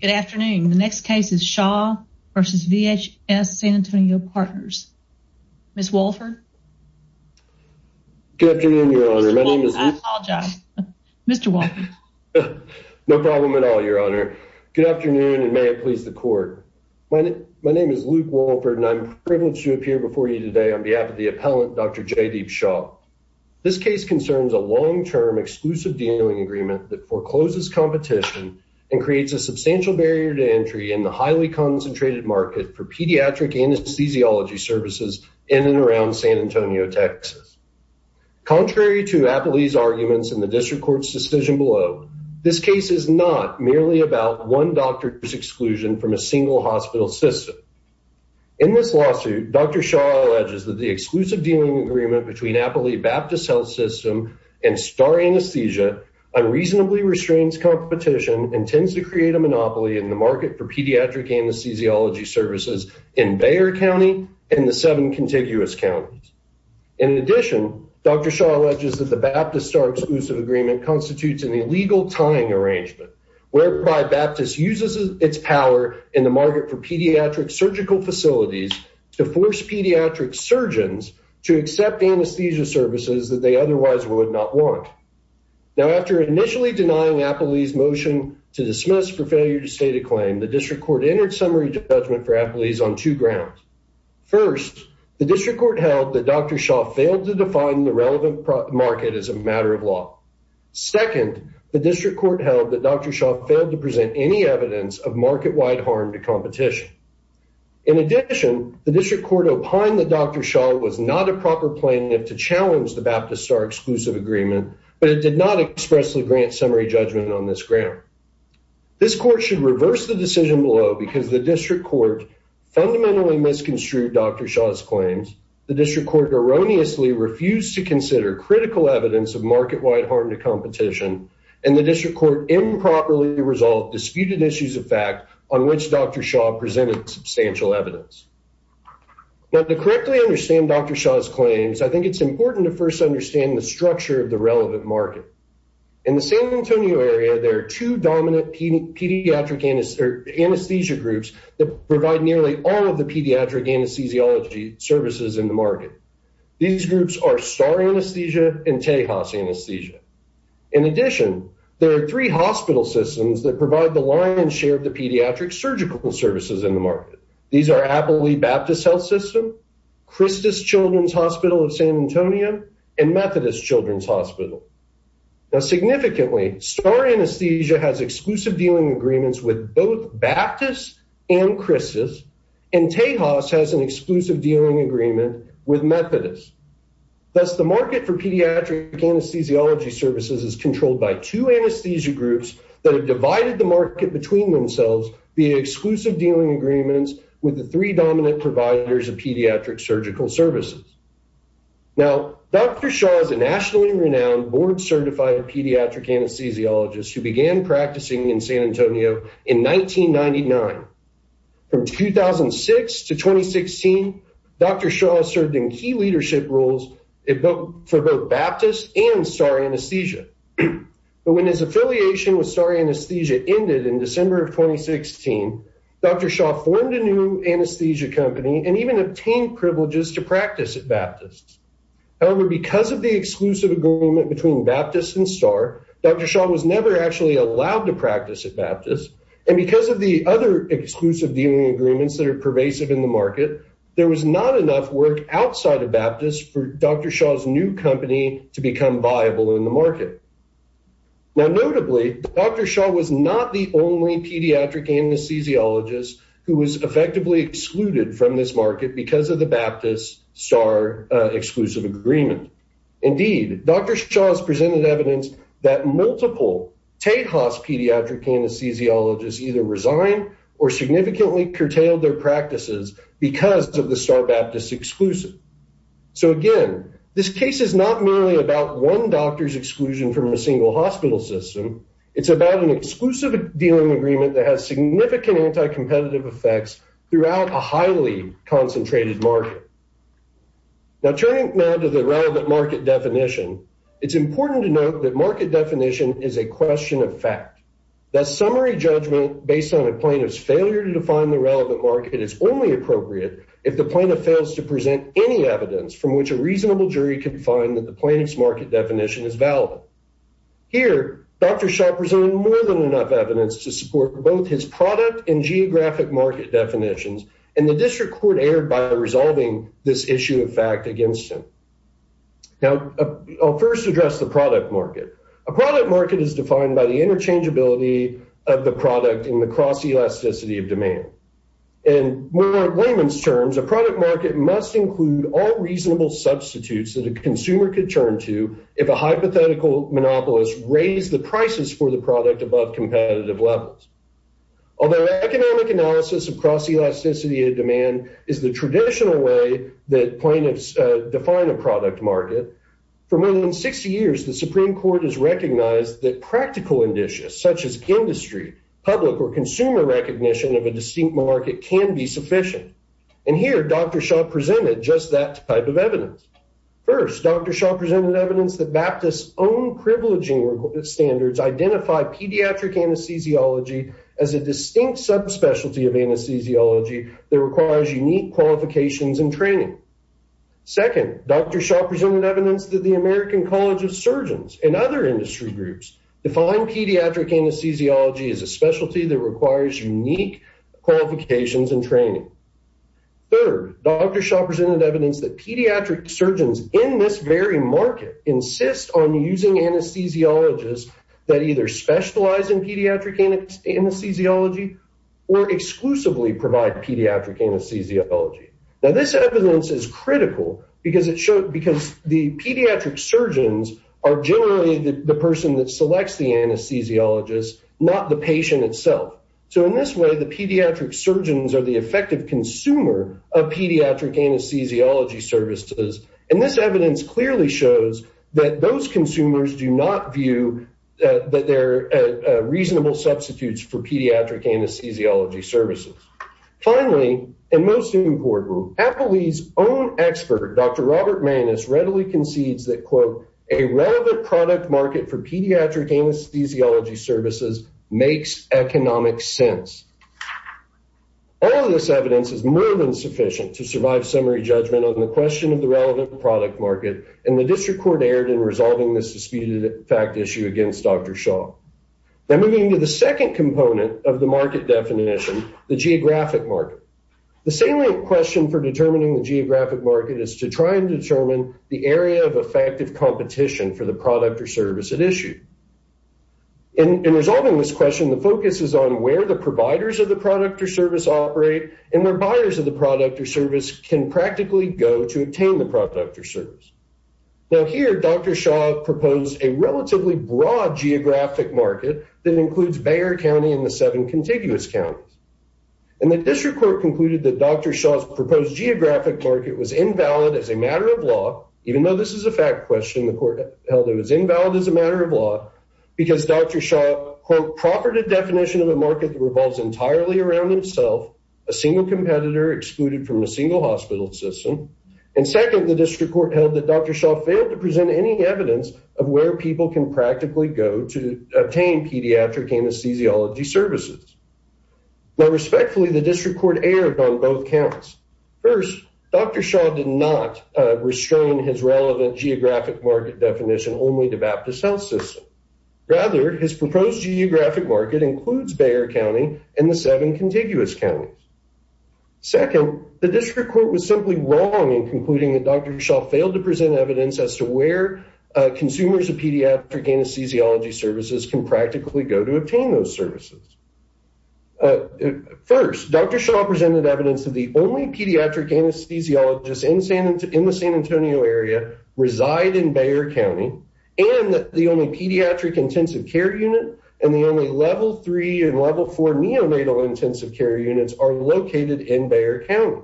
Good afternoon. The next case is Shah v. VHS San Antonio Partners. Ms. Wolford. Good afternoon, your honor. My name is... I apologize. Mr. Wolford. No problem at all, your honor. Good afternoon, and may it please the court. My name is Luke Wolford, and I'm privileged to appear before you today on behalf of the appellant, Dr. Jaydeep Shah. This case concerns a long-term exclusive dealing agreement that forecloses competition and creates a substantial barrier to entry in the highly concentrated market for pediatric anesthesiology services in and around San Antonio, TX. Contrary to Appley's arguments in the district court's decision below, this case is not merely about one doctor's exclusion from a single hospital system. In this lawsuit, Dr. Shah alleges that the exclusive dealing agreement between Baptist Star Anesthesia unreasonably restrains competition and tends to create a monopoly in the market for pediatric anesthesiology services in Bayer County and the seven contiguous counties. In addition, Dr. Shah alleges that the Baptist Star exclusive agreement constitutes an illegal tying arrangement whereby Baptist uses its power in the market for pediatric surgical facilities to force pediatric surgeons to accept anesthesia services that they otherwise would not want. Now, after initially denying Appley's motion to dismiss for failure to state a claim, the district court entered summary judgment for Appley's on two grounds. First, the district court held that Dr. Shah failed to define the relevant market as a matter of law. Second, the district court held that Dr. Shah failed to present any evidence of market-wide harm to competition. In addition, the district court opined that Dr. Shah was not a proper plaintiff to challenge the Baptist Star agreement, but it did not expressly grant summary judgment on this ground. This court should reverse the decision below because the district court fundamentally misconstrued Dr. Shah's claims, the district court erroneously refused to consider critical evidence of market-wide harm to competition, and the district court improperly resolved disputed issues of fact on which Dr. Shah presented substantial evidence. Now, to correctly understand Dr. Shah's claims, I think it's important to first understand the structure of the relevant market. In the San Antonio area, there are two dominant anesthesia groups that provide nearly all of the pediatric anesthesiology services in the market. These groups are Star Anesthesia and Tejas Anesthesia. In addition, there are three hospital systems that provide the lion's share of the pediatric surgical services in the market. These are Appley Baptist Health System, Christus Children's Hospital of San Antonio, and Methodist Children's Hospital. Now, significantly, Star Anesthesia has exclusive dealing agreements with both Baptist and Christus, and Tejas has an exclusive dealing agreement with Methodist. Thus, the market for pediatric anesthesiology services is controlled by two anesthesia groups that have divided the market between themselves via exclusive dealing agreements with the three dominant providers of pediatric surgical services. Now, Dr. Shah is a nationally renowned board-certified pediatric anesthesiologist who began practicing in San Antonio in 1999. From 2006 to 2016, Dr. Shah served in key leadership roles for both Baptist and Star Anesthesia, but when his affiliation with Star Anesthesia ended in a new anesthesia company and even obtained privileges to practice at Baptist. However, because of the exclusive agreement between Baptist and Star, Dr. Shah was never actually allowed to practice at Baptist, and because of the other exclusive dealing agreements that are pervasive in the market, there was not enough work outside of Baptist for Dr. Shah's new company to become viable in the market. Now, notably, Dr. Shah was not the only pediatric anesthesiologist who was effectively excluded from this market because of the Baptist-Star exclusive agreement. Indeed, Dr. Shah has presented evidence that multiple TAHAS pediatric anesthesiologists either resigned or significantly curtailed their practices because of the Star-Baptist exclusive. So again, this case is not merely about one doctor's exclusion from a single hospital system, it's about an exclusive dealing agreement that has significant anti-competitive effects throughout a highly concentrated market. Now, turning now to the relevant market definition, it's important to note that market definition is a question of fact. That summary judgment based on a plaintiff's failure to define the relevant market is only appropriate if the plaintiff fails to present any evidence from which a reasonable jury can find that the plaintiff's market definition is valid. Here, Dr. Shah presented more than enough evidence to support both his product and geographic market definitions, and the district court erred by resolving this issue of fact against him. Now, I'll first address the product market. A product market is defined by the interchangeability of the product and the cross-elasticity of demand. In layman's terms, a product market must include all reasonable substitutes that a consumer could turn to if a hypothetical monopolist raised the prices for the product above competitive levels. Although economic analysis of cross-elasticity of demand is the traditional way that plaintiffs define a product market, for more than 60 years, the Supreme Court has recognized that practical indicia such as industry, public, or consumer recognition of a distinct market can be sufficient. Here, Dr. Shah presented just that type of evidence. First, Dr. Shah presented evidence that Baptist's own privileging standards identify pediatric anesthesiology as a distinct subspecialty of anesthesiology that requires unique qualifications and training. Second, Dr. Shah presented evidence that the American College of Surgeons and other industry groups define pediatric anesthesiology as a specialty that requires unique qualifications and training. Third, Dr. Shah presented evidence that pediatric surgeons in this very market insist on using anesthesiologists that either specialize in pediatric anesthesiology or exclusively provide pediatric anesthesiology. Now, this evidence is critical because the pediatric surgeons are generally the person that selects the anesthesiologist, not the patient itself. So, in this way, the pediatric surgeons are the effective consumer of pediatric anesthesiology services, and this evidence clearly shows that those consumers do not view that they're reasonable substitutes for pediatric anesthesiology services. Finally, and most important, Appleby's own expert, Dr. Robert Maness, readily concedes that, quote, a relevant product market for pediatric anesthesiology services makes economic sense. All of this evidence is more than sufficient to survive summary judgment on the question of the relevant product market, and the district court erred in resolving this disputed fact issue against Dr. Shah. Then, moving to the second component of the market definition, the geographic market. The salient question for determining the geographic market is to try and determine the area of effective competition for the product or service at issue. In resolving this question, the focus is on where the providers of the product or service operate and where buyers of the product or service can practically go to obtain the product or service. Now, here, Dr. Shah proposed a relatively broad geographic market that includes Bayer County and the seven contiguous counties, and the district court concluded that Dr. Shah's proposed geographic market was invalid as a matter of law, even though this is a fact question, the court held it was invalid as a matter of law, because Dr. Shah, quote, proffered a definition of a market that revolves entirely around himself, a single competitor excluded from a single hospital system, and second, the district court held that Dr. Shah failed to present any evidence of where people can practically go to obtain pediatric anesthesiology services. Now, respectfully, the district court erred on both accounts. First, Dr. Shah did not restrain his relevant geographic market definition only to Baptist Health System. Rather, his proposed geographic market includes Bayer County and the seven contiguous counties. Second, the district court was simply wrong in concluding that Dr. Shah failed to present evidence as to where consumers of pediatric anesthesiology services can practically go to obtain those services. First, Dr. Shah presented evidence that the only pediatric anesthesiologists in the San Antonio area reside in Bayer County, and that the only pediatric intensive care unit and the only level three and level four neonatal intensive care units are located in Bayer County.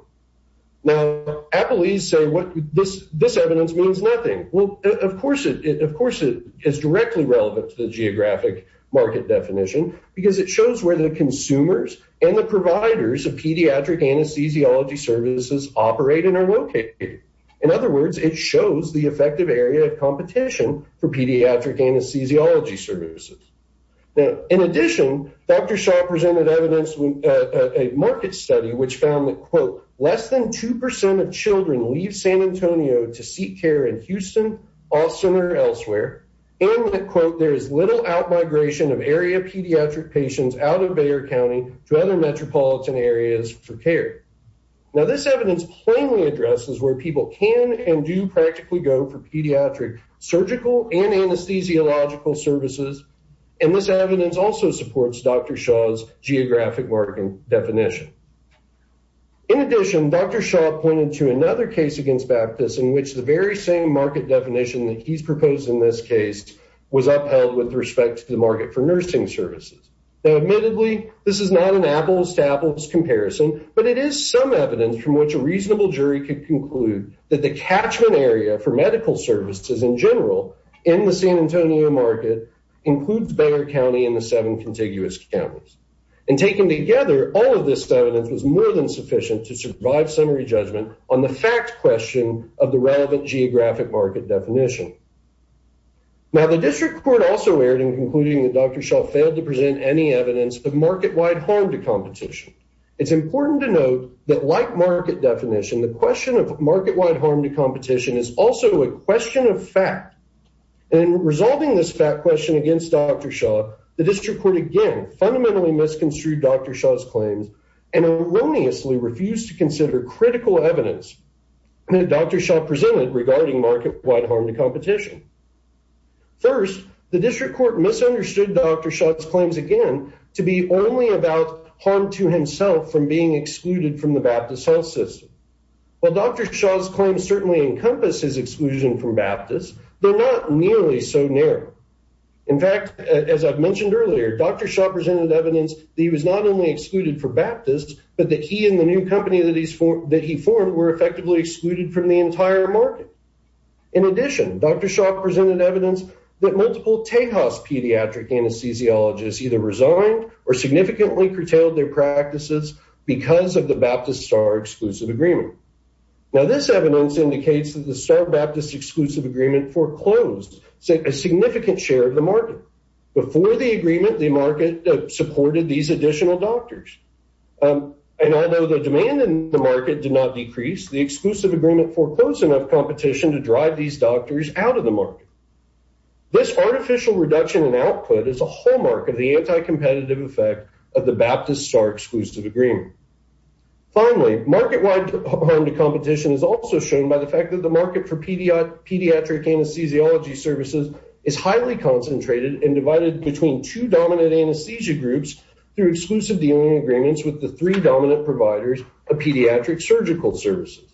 Now, Applees say this evidence means nothing. Well, of course, of course, it is directly relevant to the geographic market definition because it shows where the consumers and the providers of pediatric anesthesiology services operate and are located. In other words, it shows the effective area of competition for pediatric anesthesiology services. Now, in addition, Dr. Shah presented evidence in a market study which found that, quote, than 2% of children leave San Antonio to seek care in Houston, Austin, or elsewhere, and that, quote, there is little out migration of area pediatric patients out of Bayer County to other metropolitan areas for care. Now, this evidence plainly addresses where people can and do practically go for pediatric surgical and anesthesiological services, and this evidence also supports Dr. Shah's geographic market definition. In addition, Dr. Shah pointed to another case against Baptist in which the very same market definition that he's proposed in this case was upheld with respect to the market for nursing services. Now, admittedly, this is not an Apples to Apples comparison, but it is some evidence from which a reasonable jury could conclude that the catchment area for medical services in general in the San Antonio market includes Bayer County and the seven contiguous counties. And taken together, all of this evidence was more than sufficient to survive summary judgment on the fact question of the relevant geographic market definition. Now, the district court also erred in concluding that Dr. Shah failed to present any evidence of market-wide harm to competition. It's important to note that, like market definition, the question of market-wide harm to competition is also a question of fact. In resolving this question against Dr. Shah, the district court again fundamentally misconstrued Dr. Shah's claims and erroneously refused to consider critical evidence that Dr. Shah presented regarding market-wide harm to competition. First, the district court misunderstood Dr. Shah's claims, again, to be only about harm to himself from being excluded from the Baptist health system. While Dr. Shah's claims certainly encompass his exclusion from Baptist, they're not nearly so In fact, as I've mentioned earlier, Dr. Shah presented evidence that he was not only excluded for Baptist, but that he and the new company that he formed were effectively excluded from the entire market. In addition, Dr. Shah presented evidence that multiple Tejas pediatric anesthesiologists either resigned or significantly curtailed their practices because of the Baptist STAR exclusive agreement. Now, this evidence indicates that the STAR-Baptist exclusive agreement foreclosed a significant share of the market. Before the agreement, the market supported these additional doctors. And although the demand in the market did not decrease, the exclusive agreement foreclosed enough competition to drive these doctors out of the market. This artificial reduction in output is a hallmark of the anti-competitive effect of the Baptist STAR exclusive agreement. Finally, market-wide harm to competition is also shown by the fact that the market for pediatric anesthesiology services is highly concentrated and divided between two dominant anesthesia groups through exclusive dealing agreements with the three dominant providers of pediatric surgical services.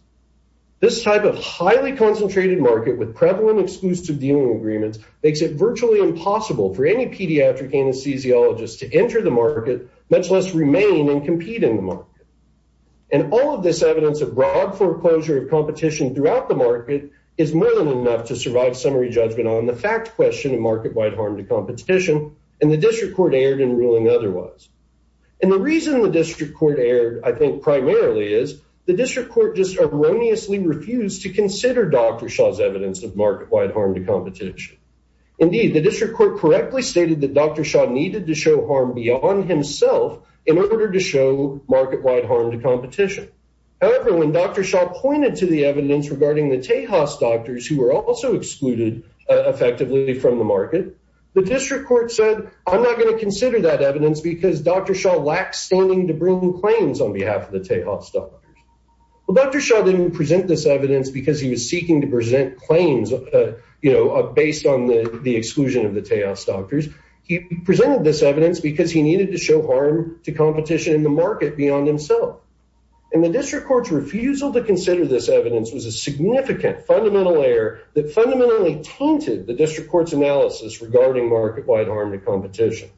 This type of highly concentrated market with prevalent exclusive dealing agreements makes it virtually impossible for any pediatric anesthesiologist to enter the market, much less remain and compete in the market. And all of this evidence of broad foreclosure of competition throughout the market is more than enough to survive summary judgment on the fact question of market-wide harm to competition and the district court erred in ruling otherwise. And the reason the district court erred, I think, primarily is the district court just erroneously refused to consider Dr. Shah's evidence of market-wide harm to competition. Indeed, the district court correctly stated that Dr. Shah needed to show harm beyond himself in order to show market-wide harm to competition. However, when Dr. Shah pointed to the evidence regarding the Tejas doctors who were also excluded effectively from the market, the district court said, I'm not going to consider that evidence because Dr. Shah lacks standing to bring new claims on behalf of the Tejas doctors. Well, Dr. Shah didn't present this evidence because he was seeking to present claims, you know, based on the exclusion of the Tejas doctors. He presented this evidence because he And the district court's refusal to consider this evidence was a significant fundamental error that fundamentally tainted the district court's analysis regarding market-wide harm to competition.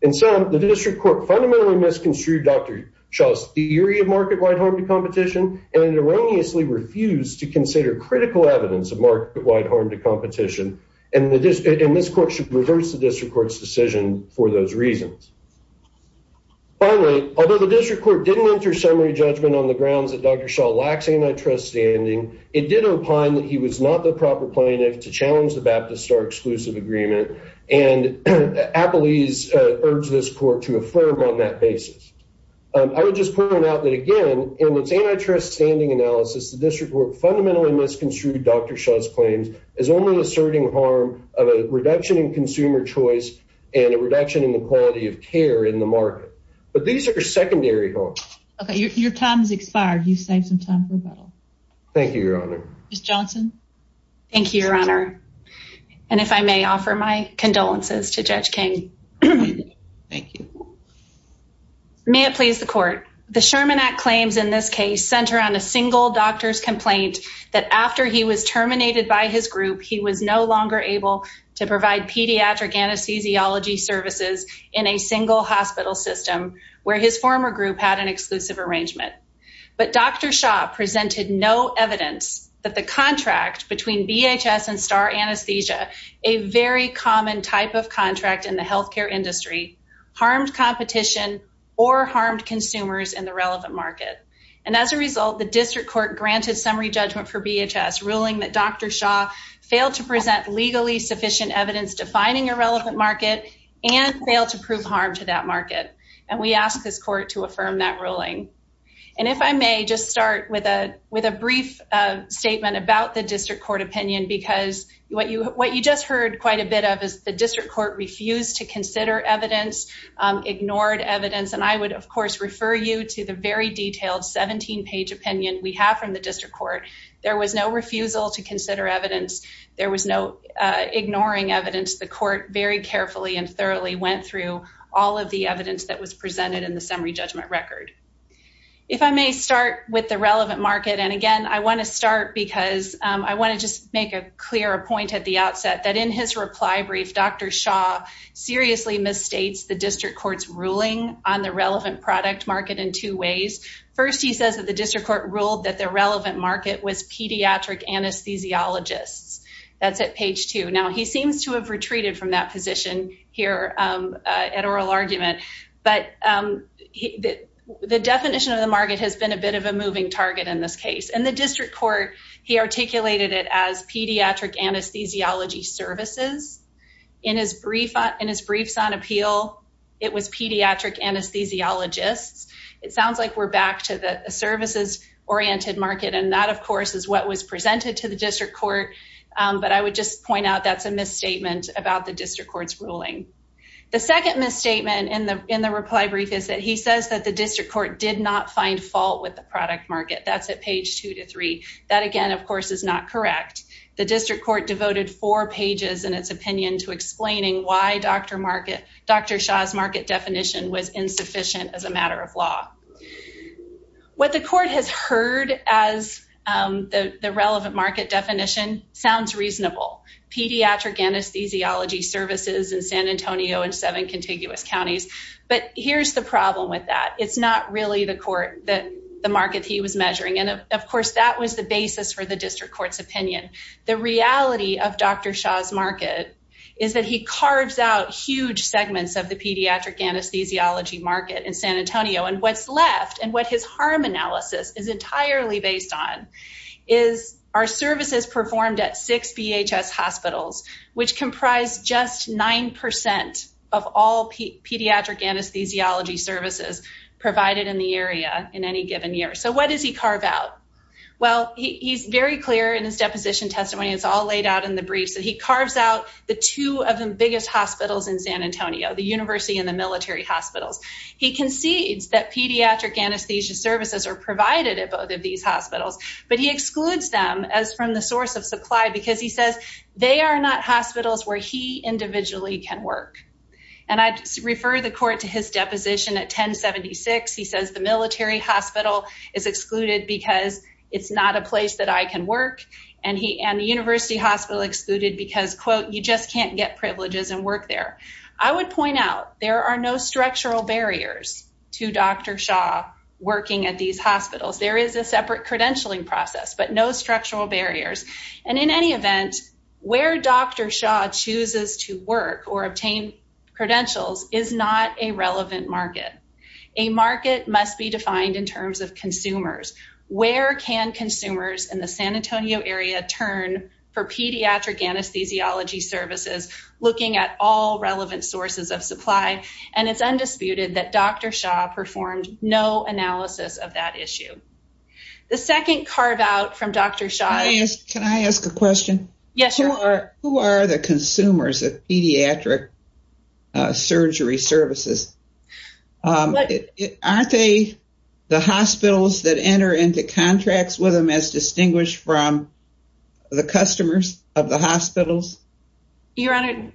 In sum, the district court fundamentally misconstrued Dr. Shah's theory of market-wide harm to competition and erroneously refused to consider critical evidence of market-wide harm to competition. And this court should reverse the district court's decision for those reasons. Finally, although the district court didn't enter summary judgment on the grounds that Dr. Shah lacks antitrust standing, it did opine that he was not the proper plaintiff to challenge the Baptist Star exclusive agreement, and Applees urged this court to affirm on that basis. I would just point out that, again, in its antitrust standing analysis, the district court fundamentally misconstrued Dr. Shah's claims as only asserting harm of a reduction in consumer choice and a reduction in the quality of care in the market. But these are secondary harms. Okay, your time has expired. You've saved some time for rebuttal. Thank you, Your Honor. Ms. Johnson. Thank you, Your Honor. And if I may offer my condolences to Judge King. Thank you. May it please the court. The Sherman Act claims in this case center on a single doctor's complaint that after he was terminated by his group, he was no longer able to provide pediatric anesthesiology services in a single hospital system where his former group had an exclusive arrangement. But Dr. Shah presented no evidence that the contract between VHS and Star Anesthesia, a very common type of contract in the healthcare industry, harmed competition or harmed consumers in the relevant market. And as a result, the district court granted summary judgment for VHS ruling that Dr. Shah failed to present legally sufficient evidence defining a relevant market and failed to prove harm to that market. And we ask this court to affirm that ruling. And if I may just start with a with a brief statement about the district court opinion, because what you what you just heard quite a bit of is the district court refused to consider evidence, ignored evidence. And I would, of course, refer you to the very detailed 17 page opinion we have from the district court. There was no refusal to consider evidence. There was no ignoring evidence. The court very carefully and thoroughly went through all of the evidence that was presented in the summary judgment record. If I may start with the relevant market. And again, I want to start because I want to just make a clear point at the outset that in his reply brief, Dr. Shah seriously misstates the district court's ruling on the relevant product market in two ways. First, he says that the district court ruled that the relevant market was pediatric anesthesiologists. That's at page two. Now, he seems to have retreated from that position here at oral argument. But the definition of the market has been a bit of a moving target in this case. And the district court, he articulated it as pediatric anesthesiology services. In his briefs on appeal, it was pediatric anesthesiologists. It sounds like we're back to the services oriented market. And that, of course, is what was presented to the district court. But I would just point out that's a misstatement about the district court's ruling. The second misstatement in the reply brief is that he says that the district court did not find fault with the product market. That's at page two to three. That, again, of course, is not correct. The district court devoted four pages in its opinion to explaining why Dr. Shah's market definition was insufficient as a matter of law. What the court has heard as the relevant market definition sounds reasonable, pediatric anesthesiology services in San Antonio and seven contiguous counties. But here's the problem with that. It's not really the market he was measuring. And, of course, that was the basis for the district court's opinion. The reality of Dr. Shah's market is that he carves out huge segments of the pediatric anesthesiology market in San Antonio. And what's left and what his harm analysis is entirely based on is our services performed at six BHS hospitals, which comprise just nine percent of all pediatric anesthesiology services provided in the area in any given year. So what does he carve out? Well, he's very clear in his deposition testimony. It's all laid out in the briefs that he carves out the two of the biggest hospitals in San Antonio, the university and the military hospitals. He concedes that pediatric anesthesia services are provided at both of these hospitals, but he excludes them as from the source of supply because he says they are not hospitals where he and I refer the court to his deposition at 1076. He says the military hospital is excluded because it's not a place that I can work. And he and the university hospital excluded because, quote, you just can't get privileges and work there. I would point out there are no structural barriers to Dr. Shah working at these hospitals. There is a separate credentialing process, but no structural barriers. And in any event, where Dr. Shah chooses to work or obtain credentials is not a relevant market. A market must be defined in terms of consumers. Where can consumers in the San Antonio area turn for pediatric anesthesiology services, looking at all relevant sources of supply? And it's undisputed that Dr. Shah performed no analysis of that issue. The second carve out from Dr. Shah... Can I ask a question? Yes, you are. Who are the consumers of pediatric surgery services? Aren't they the hospitals that enter into contracts with them as distinguished from the customers of the hospitals? Your honor.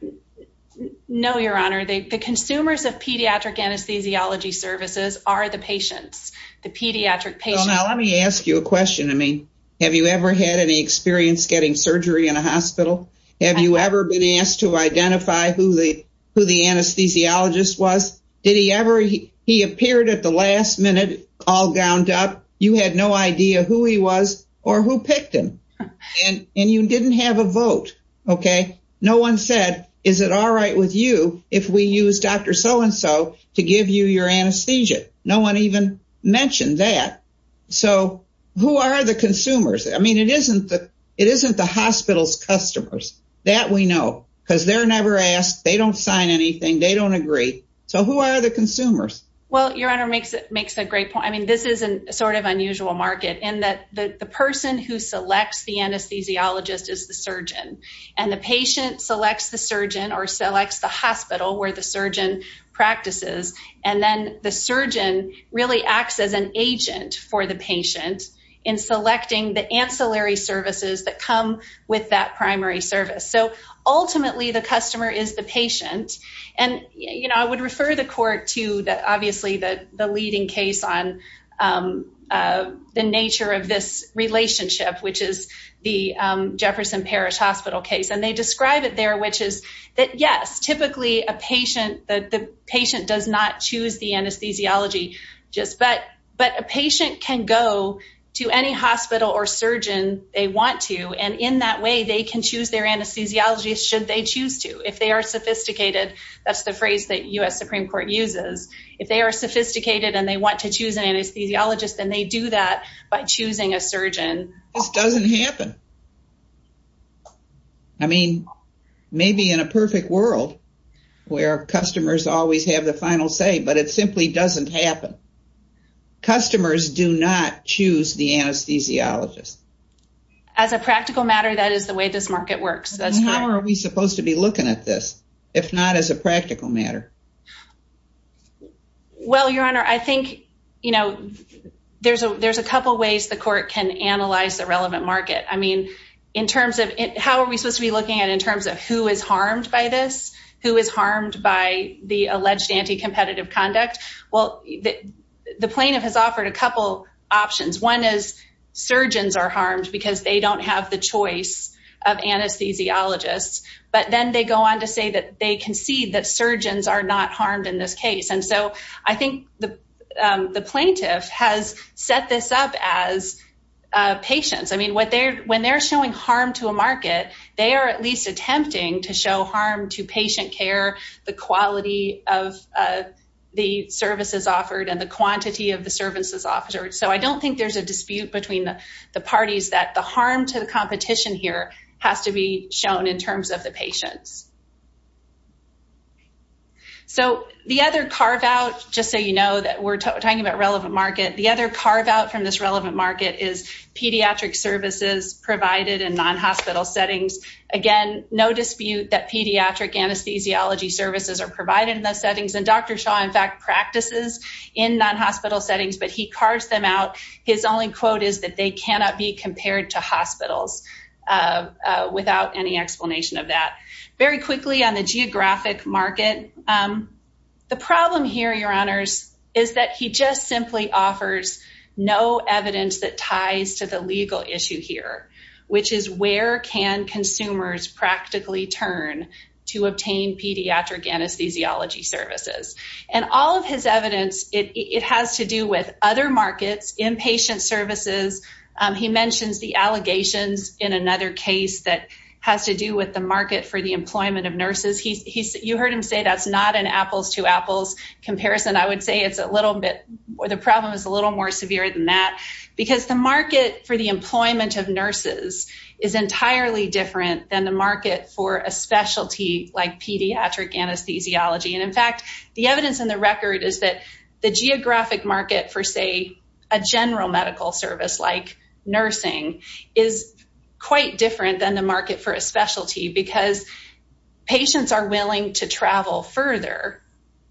No, your honor. The consumers of pediatric anesthesiology services are the patients, the pediatric patients. Now, let me ask you a question. I mean, have you ever had any experience getting surgery in a hospital? Have you ever been asked to identify who the anesthesiologist was? Did he ever... He appeared at the last minute, all gowned up. You had no idea who he was or who picked him. And you didn't have a vote. No one said, is it all right with you if we use Dr. So-and-so to give you your anesthesia? No one even mentioned that. So who are the consumers? I mean, it isn't the hospital's customers. That we know, because they're never asked. They don't sign anything. They don't agree. So who are the consumers? Well, your honor makes a great point. I mean, this is an unusual market in that the person who selects the anesthesiologist is the surgeon. And the patient selects the surgeon or selects the hospital where the surgeon practices. And then the surgeon really acts as an agent for the patient in selecting the ancillary services that come with that primary service. So ultimately, the customer is the patient. And I would refer the court to, obviously, the leading case on the nature of this relationship, which is the Jefferson Parish Hospital case. And they describe it there, which is that, yes, typically, the patient does not choose the anesthesiology, but a patient can go to any hospital or surgeon they want to. And in that way, they can choose their anesthesiology should they choose to. If they are sophisticated, that's the phrase that U.S. Supreme Court uses. If they are sophisticated and they want to choose an anesthesiologist, then they do that by choosing a surgeon. This doesn't happen. I mean, maybe in a perfect world where customers always have the final say, but it simply doesn't happen. Customers do not choose the anesthesiologist. As a practical matter, that is the way this market works. And how are we supposed to be looking at this, if not as a practical matter? Well, Your Honor, I think, you know, there's a couple ways the court can analyze the relevant market. I mean, in terms of how are we supposed to be looking at in terms of who is harmed by this, who is harmed by the alleged anti-competitive conduct? Well, the plaintiff has offered a couple options. One is surgeons are harmed because they don't have the choice of anesthesiologists. But then they go on to say that they concede that surgeons are not harmed in this case. And so, I think the plaintiff has set this up as patients. I mean, when they're showing harm to a market, they are at least attempting to show harm to patient care, the quality of the services offered and the quantity of the services offered. So, I don't think there's a dispute between the parties that the harm to the competition here has to be shown in terms of the patients. So, the other carve-out, just so you know that we're talking about relevant market, the other carve-out from this relevant market is pediatric services provided in non-hospital settings. Again, no dispute that pediatric anesthesiology services are provided in those non-hospital settings, but he carves them out. His only quote is that they cannot be compared to hospitals without any explanation of that. Very quickly on the geographic market, the problem here, your honors, is that he just simply offers no evidence that ties to the legal issue here, which is where can consumers practically turn to obtain pediatric anesthesiology services. And all of his evidence, it has to do with other markets, inpatient services. He mentions the allegations in another case that has to do with the market for the employment of nurses. You heard him say that's not an apples to apples comparison. I would say it's a little bit, the problem is a little more severe than that, because the market for the employment of nurses is entirely different than the market for a specialty like pediatric anesthesiology. In fact, the evidence in the record is that the geographic market for, say, a general medical service like nursing is quite different than the market for a specialty, because patients are willing to travel further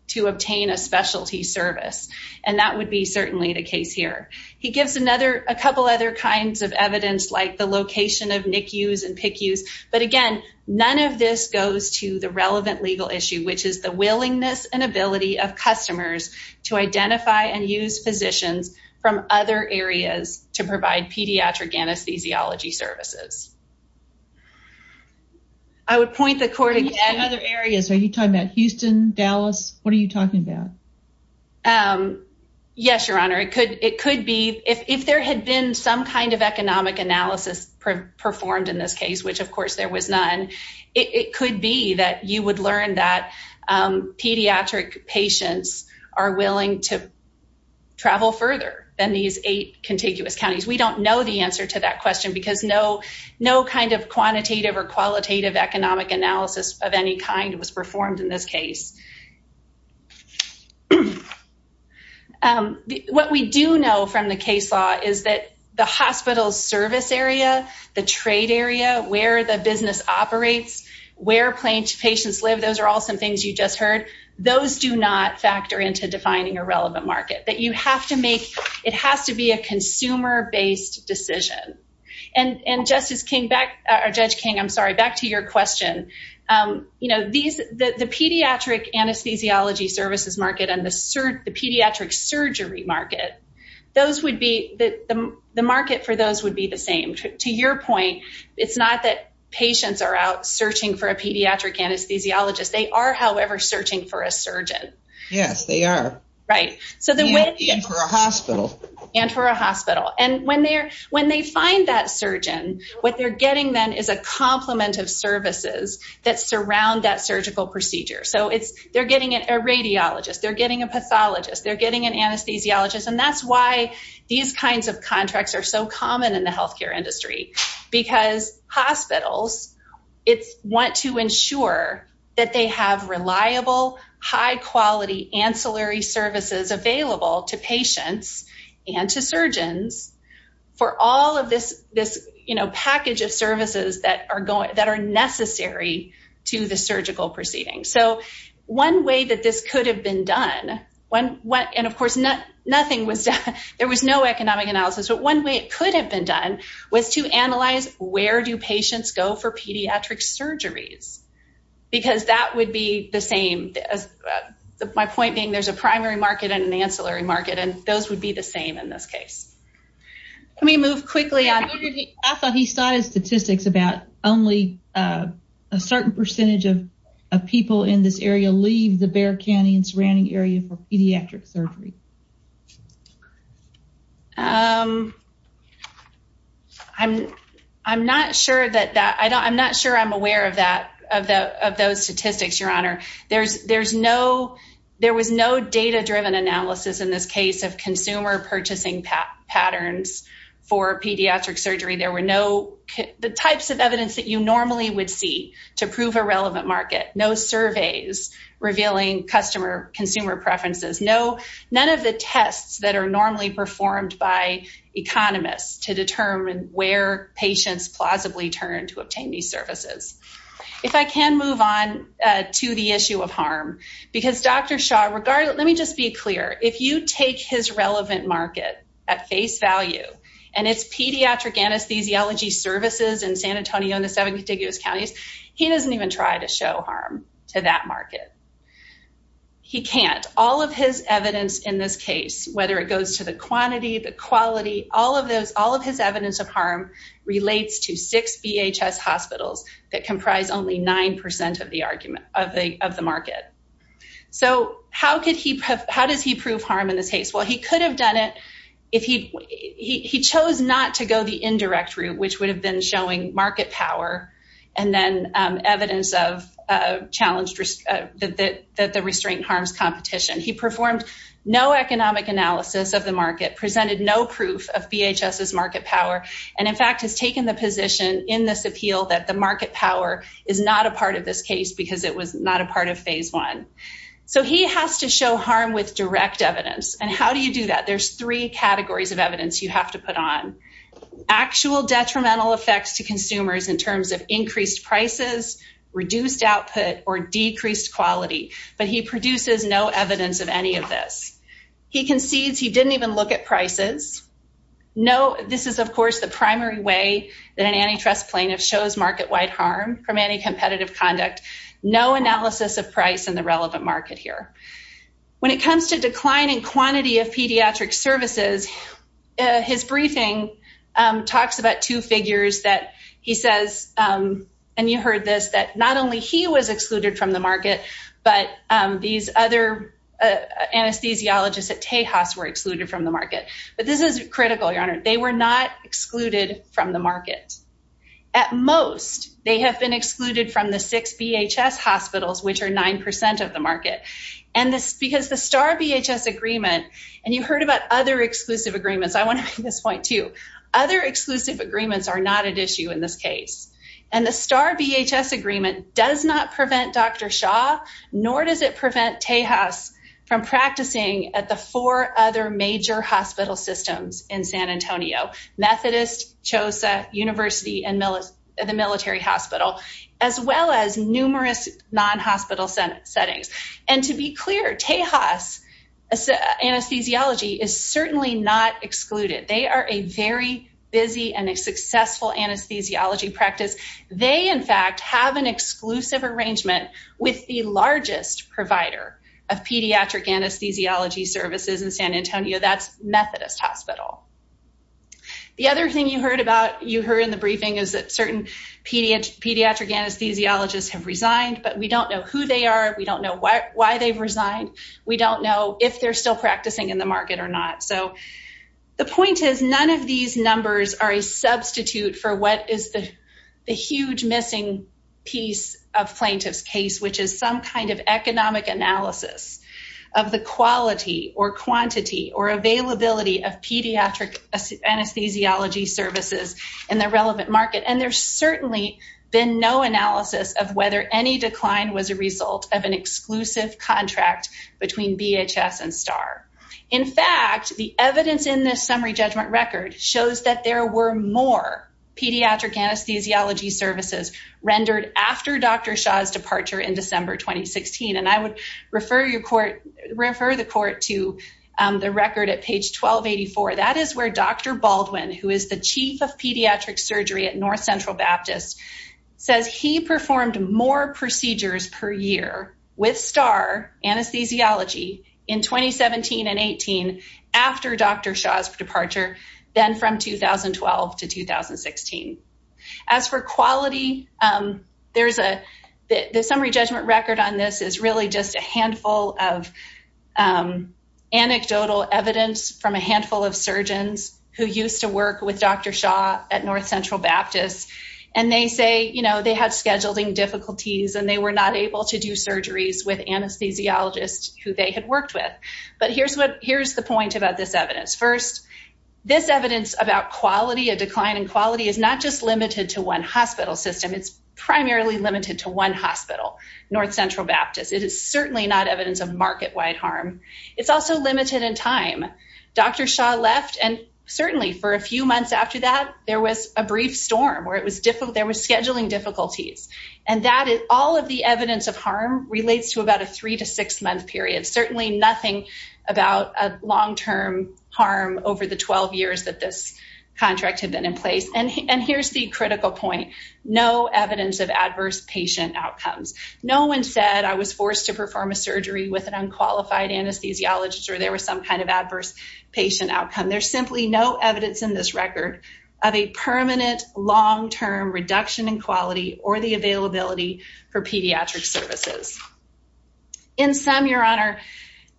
to obtain a specialty service, and that would be certainly the case here. He gives a couple other kinds of evidence like the location of NICUs and PICUs, but again, none of this goes to the relevant legal issue, which is the willingness and ability of customers to identify and use physicians from other areas to provide pediatric anesthesiology services. I would point the court again. Other areas, are you talking about Houston, Dallas, what are you talking about? Yes, your honor, it could be, if there had been some kind of economic analysis performed in this case, which of course there was none, it could be that you would learn that pediatric patients are willing to travel further than these eight contiguous counties. We don't know the answer to that question, because no kind of quantitative or qualitative economic analysis of any kind was performed in this case. What we do know from the case law is that the hospital's service area, the trade area, where the business operates, where patients live, those are all some things you just heard, those do not factor into defining a relevant market, that you have to make, it has to be a consumer-based decision. And Justice King, or Judge King, I'm sorry, back to your question. The pediatric anesthesiology services market and the pediatric surgery market, the market for those would be the same. To your point, it's not that patients are out searching for a pediatric anesthesiologist, they are, however, searching for a surgeon. Yes, they are. And for a hospital. And for a hospital. And when they find that surgeon, what they're getting then is a complement of services that surround that surgical procedure. So they're getting a radiologist, they're getting a pathologist, they're getting an anesthesiologist. And that's why these kinds of contracts are so common in the healthcare industry, because hospitals want to ensure that they have reliable, high-quality ancillary services available to patients and to surgeons for all of this package of services that are necessary to the surgical proceeding. So one way that this could have been done, and of course, there was no economic analysis, but one way it could have been done was to analyze where do patients go for pediatric surgeries? Because that would be the same, my point being there's a primary market and an ancillary market, and those would be the same in this case. Let me move quickly. I thought he started statistics about only a certain percentage of people in this area leave the Bear Canyon surrounding area for pediatric surgery. I'm not sure I'm aware of that, of those statistics, Your Honor. There was no data-driven analysis in this case of consumer purchasing patterns for pediatric surgery. There were no, the types of evidence that you normally would see to prove a relevant market, no surveys revealing consumer preferences, none of the tests that are normally performed by economists to determine where patients plausibly turn to obtain these services. If I can move on to the issue of harm, because Dr. Shaw, let me just be clear, if you take his relevant market at face value and it's pediatric anesthesiology services in San Antonio and the seven contiguous counties, he doesn't even try to show harm to that market. He can't. All of his evidence in this case, whether it goes to the quantity, the quality, all of his evidence of harm relates to six VHS hospitals that comprise only 9% of the market. So how does he prove harm in this case? Well, he could have done it if he chose not to go the indirect route, which would have been showing market power and then evidence of challenge that the restraint harms competition. He performed no economic analysis of the market, presented no proof of VHS's market power, and in fact, has taken the position in this appeal that the market power is not a part of this case because it was not a part of phase one. So he has to show harm with direct evidence. And how do you do that? There's three categories of evidence you have to put on. Actual detrimental effects to consumers in terms of increased prices, reduced output, or decreased quality. But he produces no evidence of any of this. He concedes he didn't even look at no, this is, of course, the primary way that an antitrust plaintiff shows market-wide harm from any competitive conduct, no analysis of price in the relevant market here. When it comes to declining quantity of pediatric services, his briefing talks about two figures that he says, and you heard this, that not only he was excluded from the market, but these other anesthesiologists at Tejas were excluded from the market. But this is critical, Your Honor. They were not excluded from the market. At most, they have been excluded from the six VHS hospitals, which are 9% of the market. And this, because the STAR VHS agreement, and you heard about other exclusive agreements. I want to make this point too. Other exclusive agreements are not at issue in this case. And the STAR VHS agreement does not prevent Dr. Shah, nor does it prevent Tejas from practicing at the four other major hospital systems in San Antonio, Methodist, CHOSA, University, and the Military Hospital, as well as numerous non-hospital settings. And to be clear, Tejas anesthesiology is certainly not excluded. They are a very busy and a successful anesthesiology practice. They, in fact, have an exclusive arrangement with the largest provider of pediatric anesthesiology services in San Antonio, that's Methodist Hospital. The other thing you heard in the briefing is that certain pediatric anesthesiologists have resigned, but we don't know who they are. We don't know why they've resigned. We don't know if they're still practicing in the market or not. So the point is, none of these numbers are a substitute for what is the huge missing piece of plaintiff's case, which is some kind of economic analysis of the quality or quantity or availability of pediatric anesthesiology services in the relevant market. And there's certainly been no analysis of whether any decline was a result of an exclusive contract between BHS and STAR. In fact, the evidence in this summary judgment record shows that there were more pediatric anesthesiology services rendered after Dr. Shah's departure in December 2016. And I would refer the court to the record at page 1284. That is where Dr. Baldwin, who is the chief of pediatric surgery at North Central Baptist, says he performed more procedures per year with STAR anesthesiology in 2017 and 18 after Dr. Shah's departure than from 2012 to 2016. As for quality, the summary judgment record on this is really just a handful of anecdotal evidence from a handful of surgeons who used to work with Dr. Shah at North Central Baptist. And they say they had scheduling difficulties and they were not able to do surgeries with anesthesiologists who they had worked with. But here's the point about this evidence about quality, a decline in quality, is not just limited to one hospital system. It's primarily limited to one hospital, North Central Baptist. It is certainly not evidence of market wide harm. It's also limited in time. Dr. Shah left and certainly for a few months after that, there was a brief storm where there was scheduling difficulties. And all of the evidence of harm relates to about a three to six month period. Certainly nothing about a long-term harm over the 12 years that this contract had been in place. And here's the critical point. No evidence of adverse patient outcomes. No one said I was forced to perform a surgery with an unqualified anesthesiologist or there was some kind of adverse patient outcome. There's simply no evidence in this record of a permanent long-term reduction in quality or the availability for pediatric services. In some, your honor,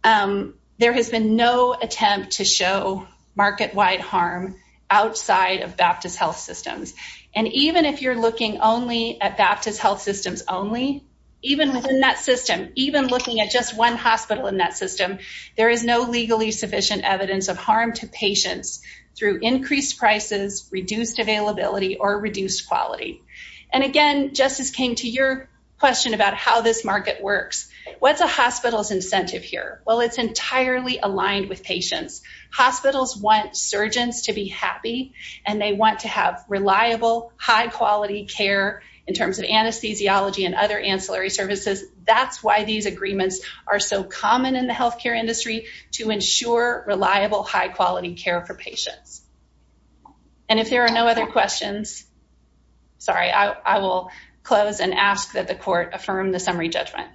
there has been no attempt to show market-wide harm outside of Baptist health systems. And even if you're looking only at Baptist health systems only, even within that system, even looking at just one hospital in that system, there is no legally sufficient evidence of harm to patients through increased prices, reduced availability or reduced quality. And again, just as came to your question about how this market works, what's a hospital's incentive here? Well, it's entirely aligned with patients. Hospitals want surgeons to be happy and they want to have reliable, high quality care in terms of anesthesiology and other ancillary services. That's why these agreements are so common in the healthcare industry to ensure reliable, high quality care for patients. And if there are no other questions, sorry, I will close and ask that the court affirm the summary judgment.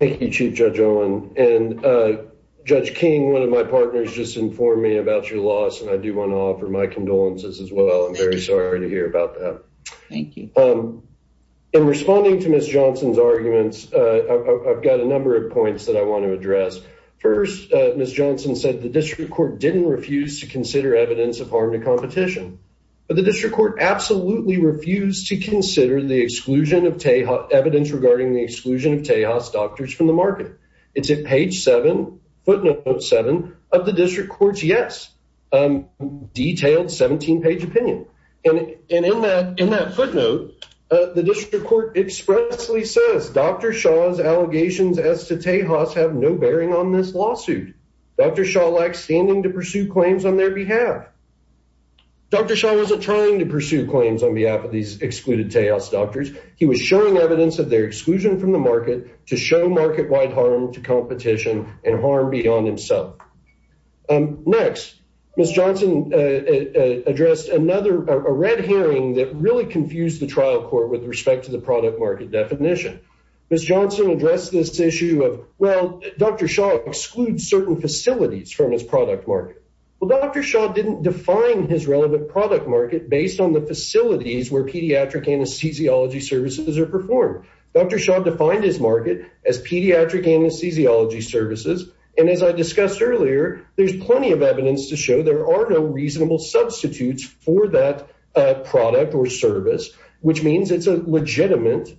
Thank you, Chief Judge Owen. And Judge King, one of my partners, just informed me about your loss and I do want to offer my condolences as well. I'm very sorry to hear about that. Thank you. In responding to Ms. Johnson's arguments, I've got a number of points that I want to address. First, Ms. Johnson said the district court didn't refuse to consider evidence of harm to competition, but the district court absolutely refused to consider the exclusion of Tejas, evidence regarding the exclusion of Tejas doctors from the market. It's at page seven, footnote seven of the district yes, detailed 17-page opinion. And in that footnote, the district court expressly says, Dr. Shah's allegations as to Tejas have no bearing on this lawsuit. Dr. Shah lacks standing to pursue claims on their behalf. Dr. Shah wasn't trying to pursue claims on behalf of these excluded Tejas doctors. He was showing evidence of their exclusion from the market to show market-wide harm to competition. Next, Ms. Johnson addressed another, a red herring that really confused the trial court with respect to the product market definition. Ms. Johnson addressed this issue of, well, Dr. Shah excludes certain facilities from his product market. Well, Dr. Shah didn't define his relevant product market based on the facilities where pediatric anesthesiology services are performed. Dr. Shah defined his market as pediatric anesthesiology services. And as I discussed earlier, there's plenty of evidence to show there are no reasonable substitutes for that product or service, which means it's a legitimate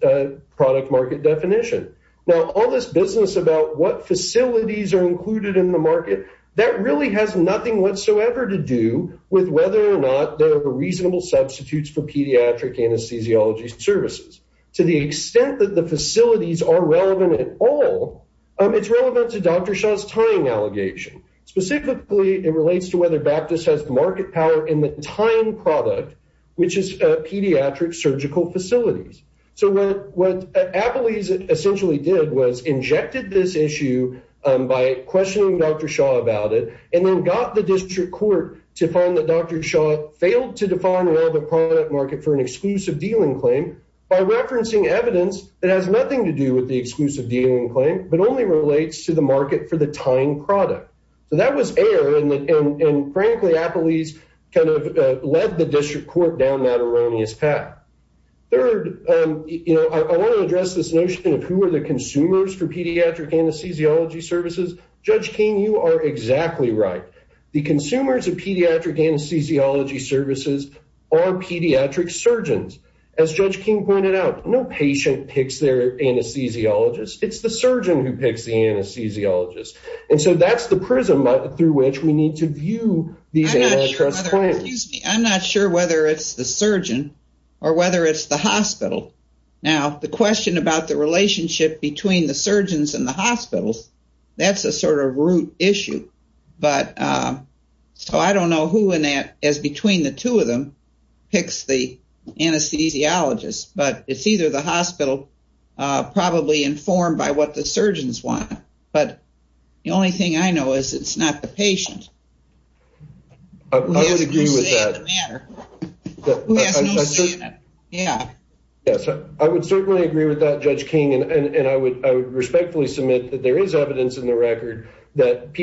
product market definition. Now, all this business about what facilities are included in the market, that really has nothing whatsoever to do with whether or not there are reasonable substitutes for pediatric anesthesiology services. To the extent that the facilities are relevant at all, it's relevant to Dr. Shah's tying allegation. Specifically, it relates to whether Baptist has market power in the tying product, which is pediatric surgical facilities. So what Applees essentially did was injected this issue by questioning Dr. Shah about it and then got the district court to find that Dr. Shah failed to define relevant product market for an exclusive dealing claim by referencing evidence that has nothing to do with the exclusive dealing claim, but only relates to the market for the tying product. So that was air and frankly Applees kind of led the district court down that erroneous path. Third, I want to address this notion of who are the consumers for pediatric anesthesiology services. Judge King, you are exactly right. The consumers of pediatric anesthesiology services are pediatric surgeons. As Judge King pointed out, no patient picks their anesthesiologist. It's the surgeon who picks the anesthesiologist. And so that's the prism through which we need to view these antitrust claims. I'm not sure whether it's the surgeon or whether it's the hospital. Now, the question about the relationship between the surgeons and the hospitals, that's a sort of root issue. So I don't know who in that, as between the two of them, picks the anesthesiologist. But it's either the hospital, probably informed by what the surgeons want. But the only thing I know is it's not the patient. Who has no say in the matter. Yes, I would certainly agree with that, Judge King. And I would respectfully submit that there is evidence in the record that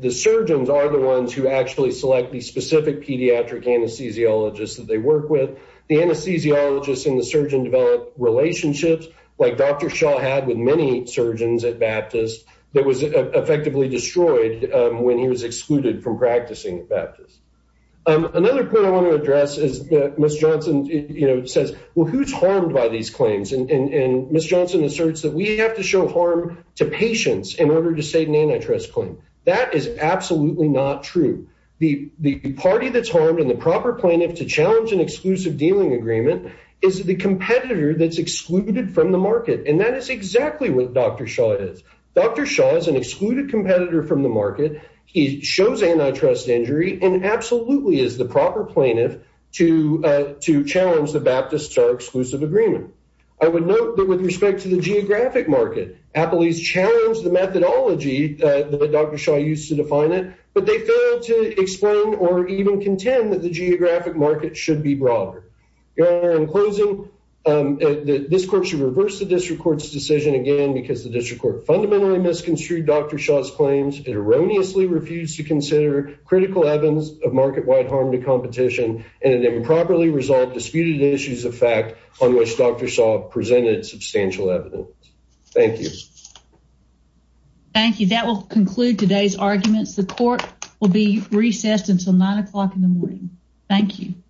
the surgeons are the ones who actually select the specific pediatric anesthesiologists that they work with. The anesthesiologists and the surgeon develop relationships like Dr. Shaw had with many surgeons at Baptist that was effectively destroyed when he was excluded from practicing at Baptist. Another point I want to address is that Ms. Johnson says, well, who's harmed by these claims? And Ms. Johnson asserts that we have to show harm to patients in order to state an antitrust claim. That is absolutely not true. The party that's harmed and the proper plaintiff to challenge an exclusive dealing agreement is the competitor that's excluded from the market. And that is exactly what Dr. Shaw is. Dr. Shaw is an excluded competitor from the market. He shows antitrust injury and absolutely is the proper plaintiff to challenge the Baptist's exclusive agreement. I would note that with respect to the geographic market, Appley's challenged the methodology that Dr. Shaw used to define it, but they failed to explain or even contend that the geographic market should be broader. In closing, this court should reverse the district court's decision again because the district court fundamentally misconstrued Dr. Shaw's claims. It erroneously refused to consider critical evidence of market-wide harm to competition and it improperly resolved disputed issues of fact on which Dr. Shaw presented substantial evidence. Thank you. Thank you. That will conclude today's arguments. The court will be recessed until nine o'clock in the morning. Thank you.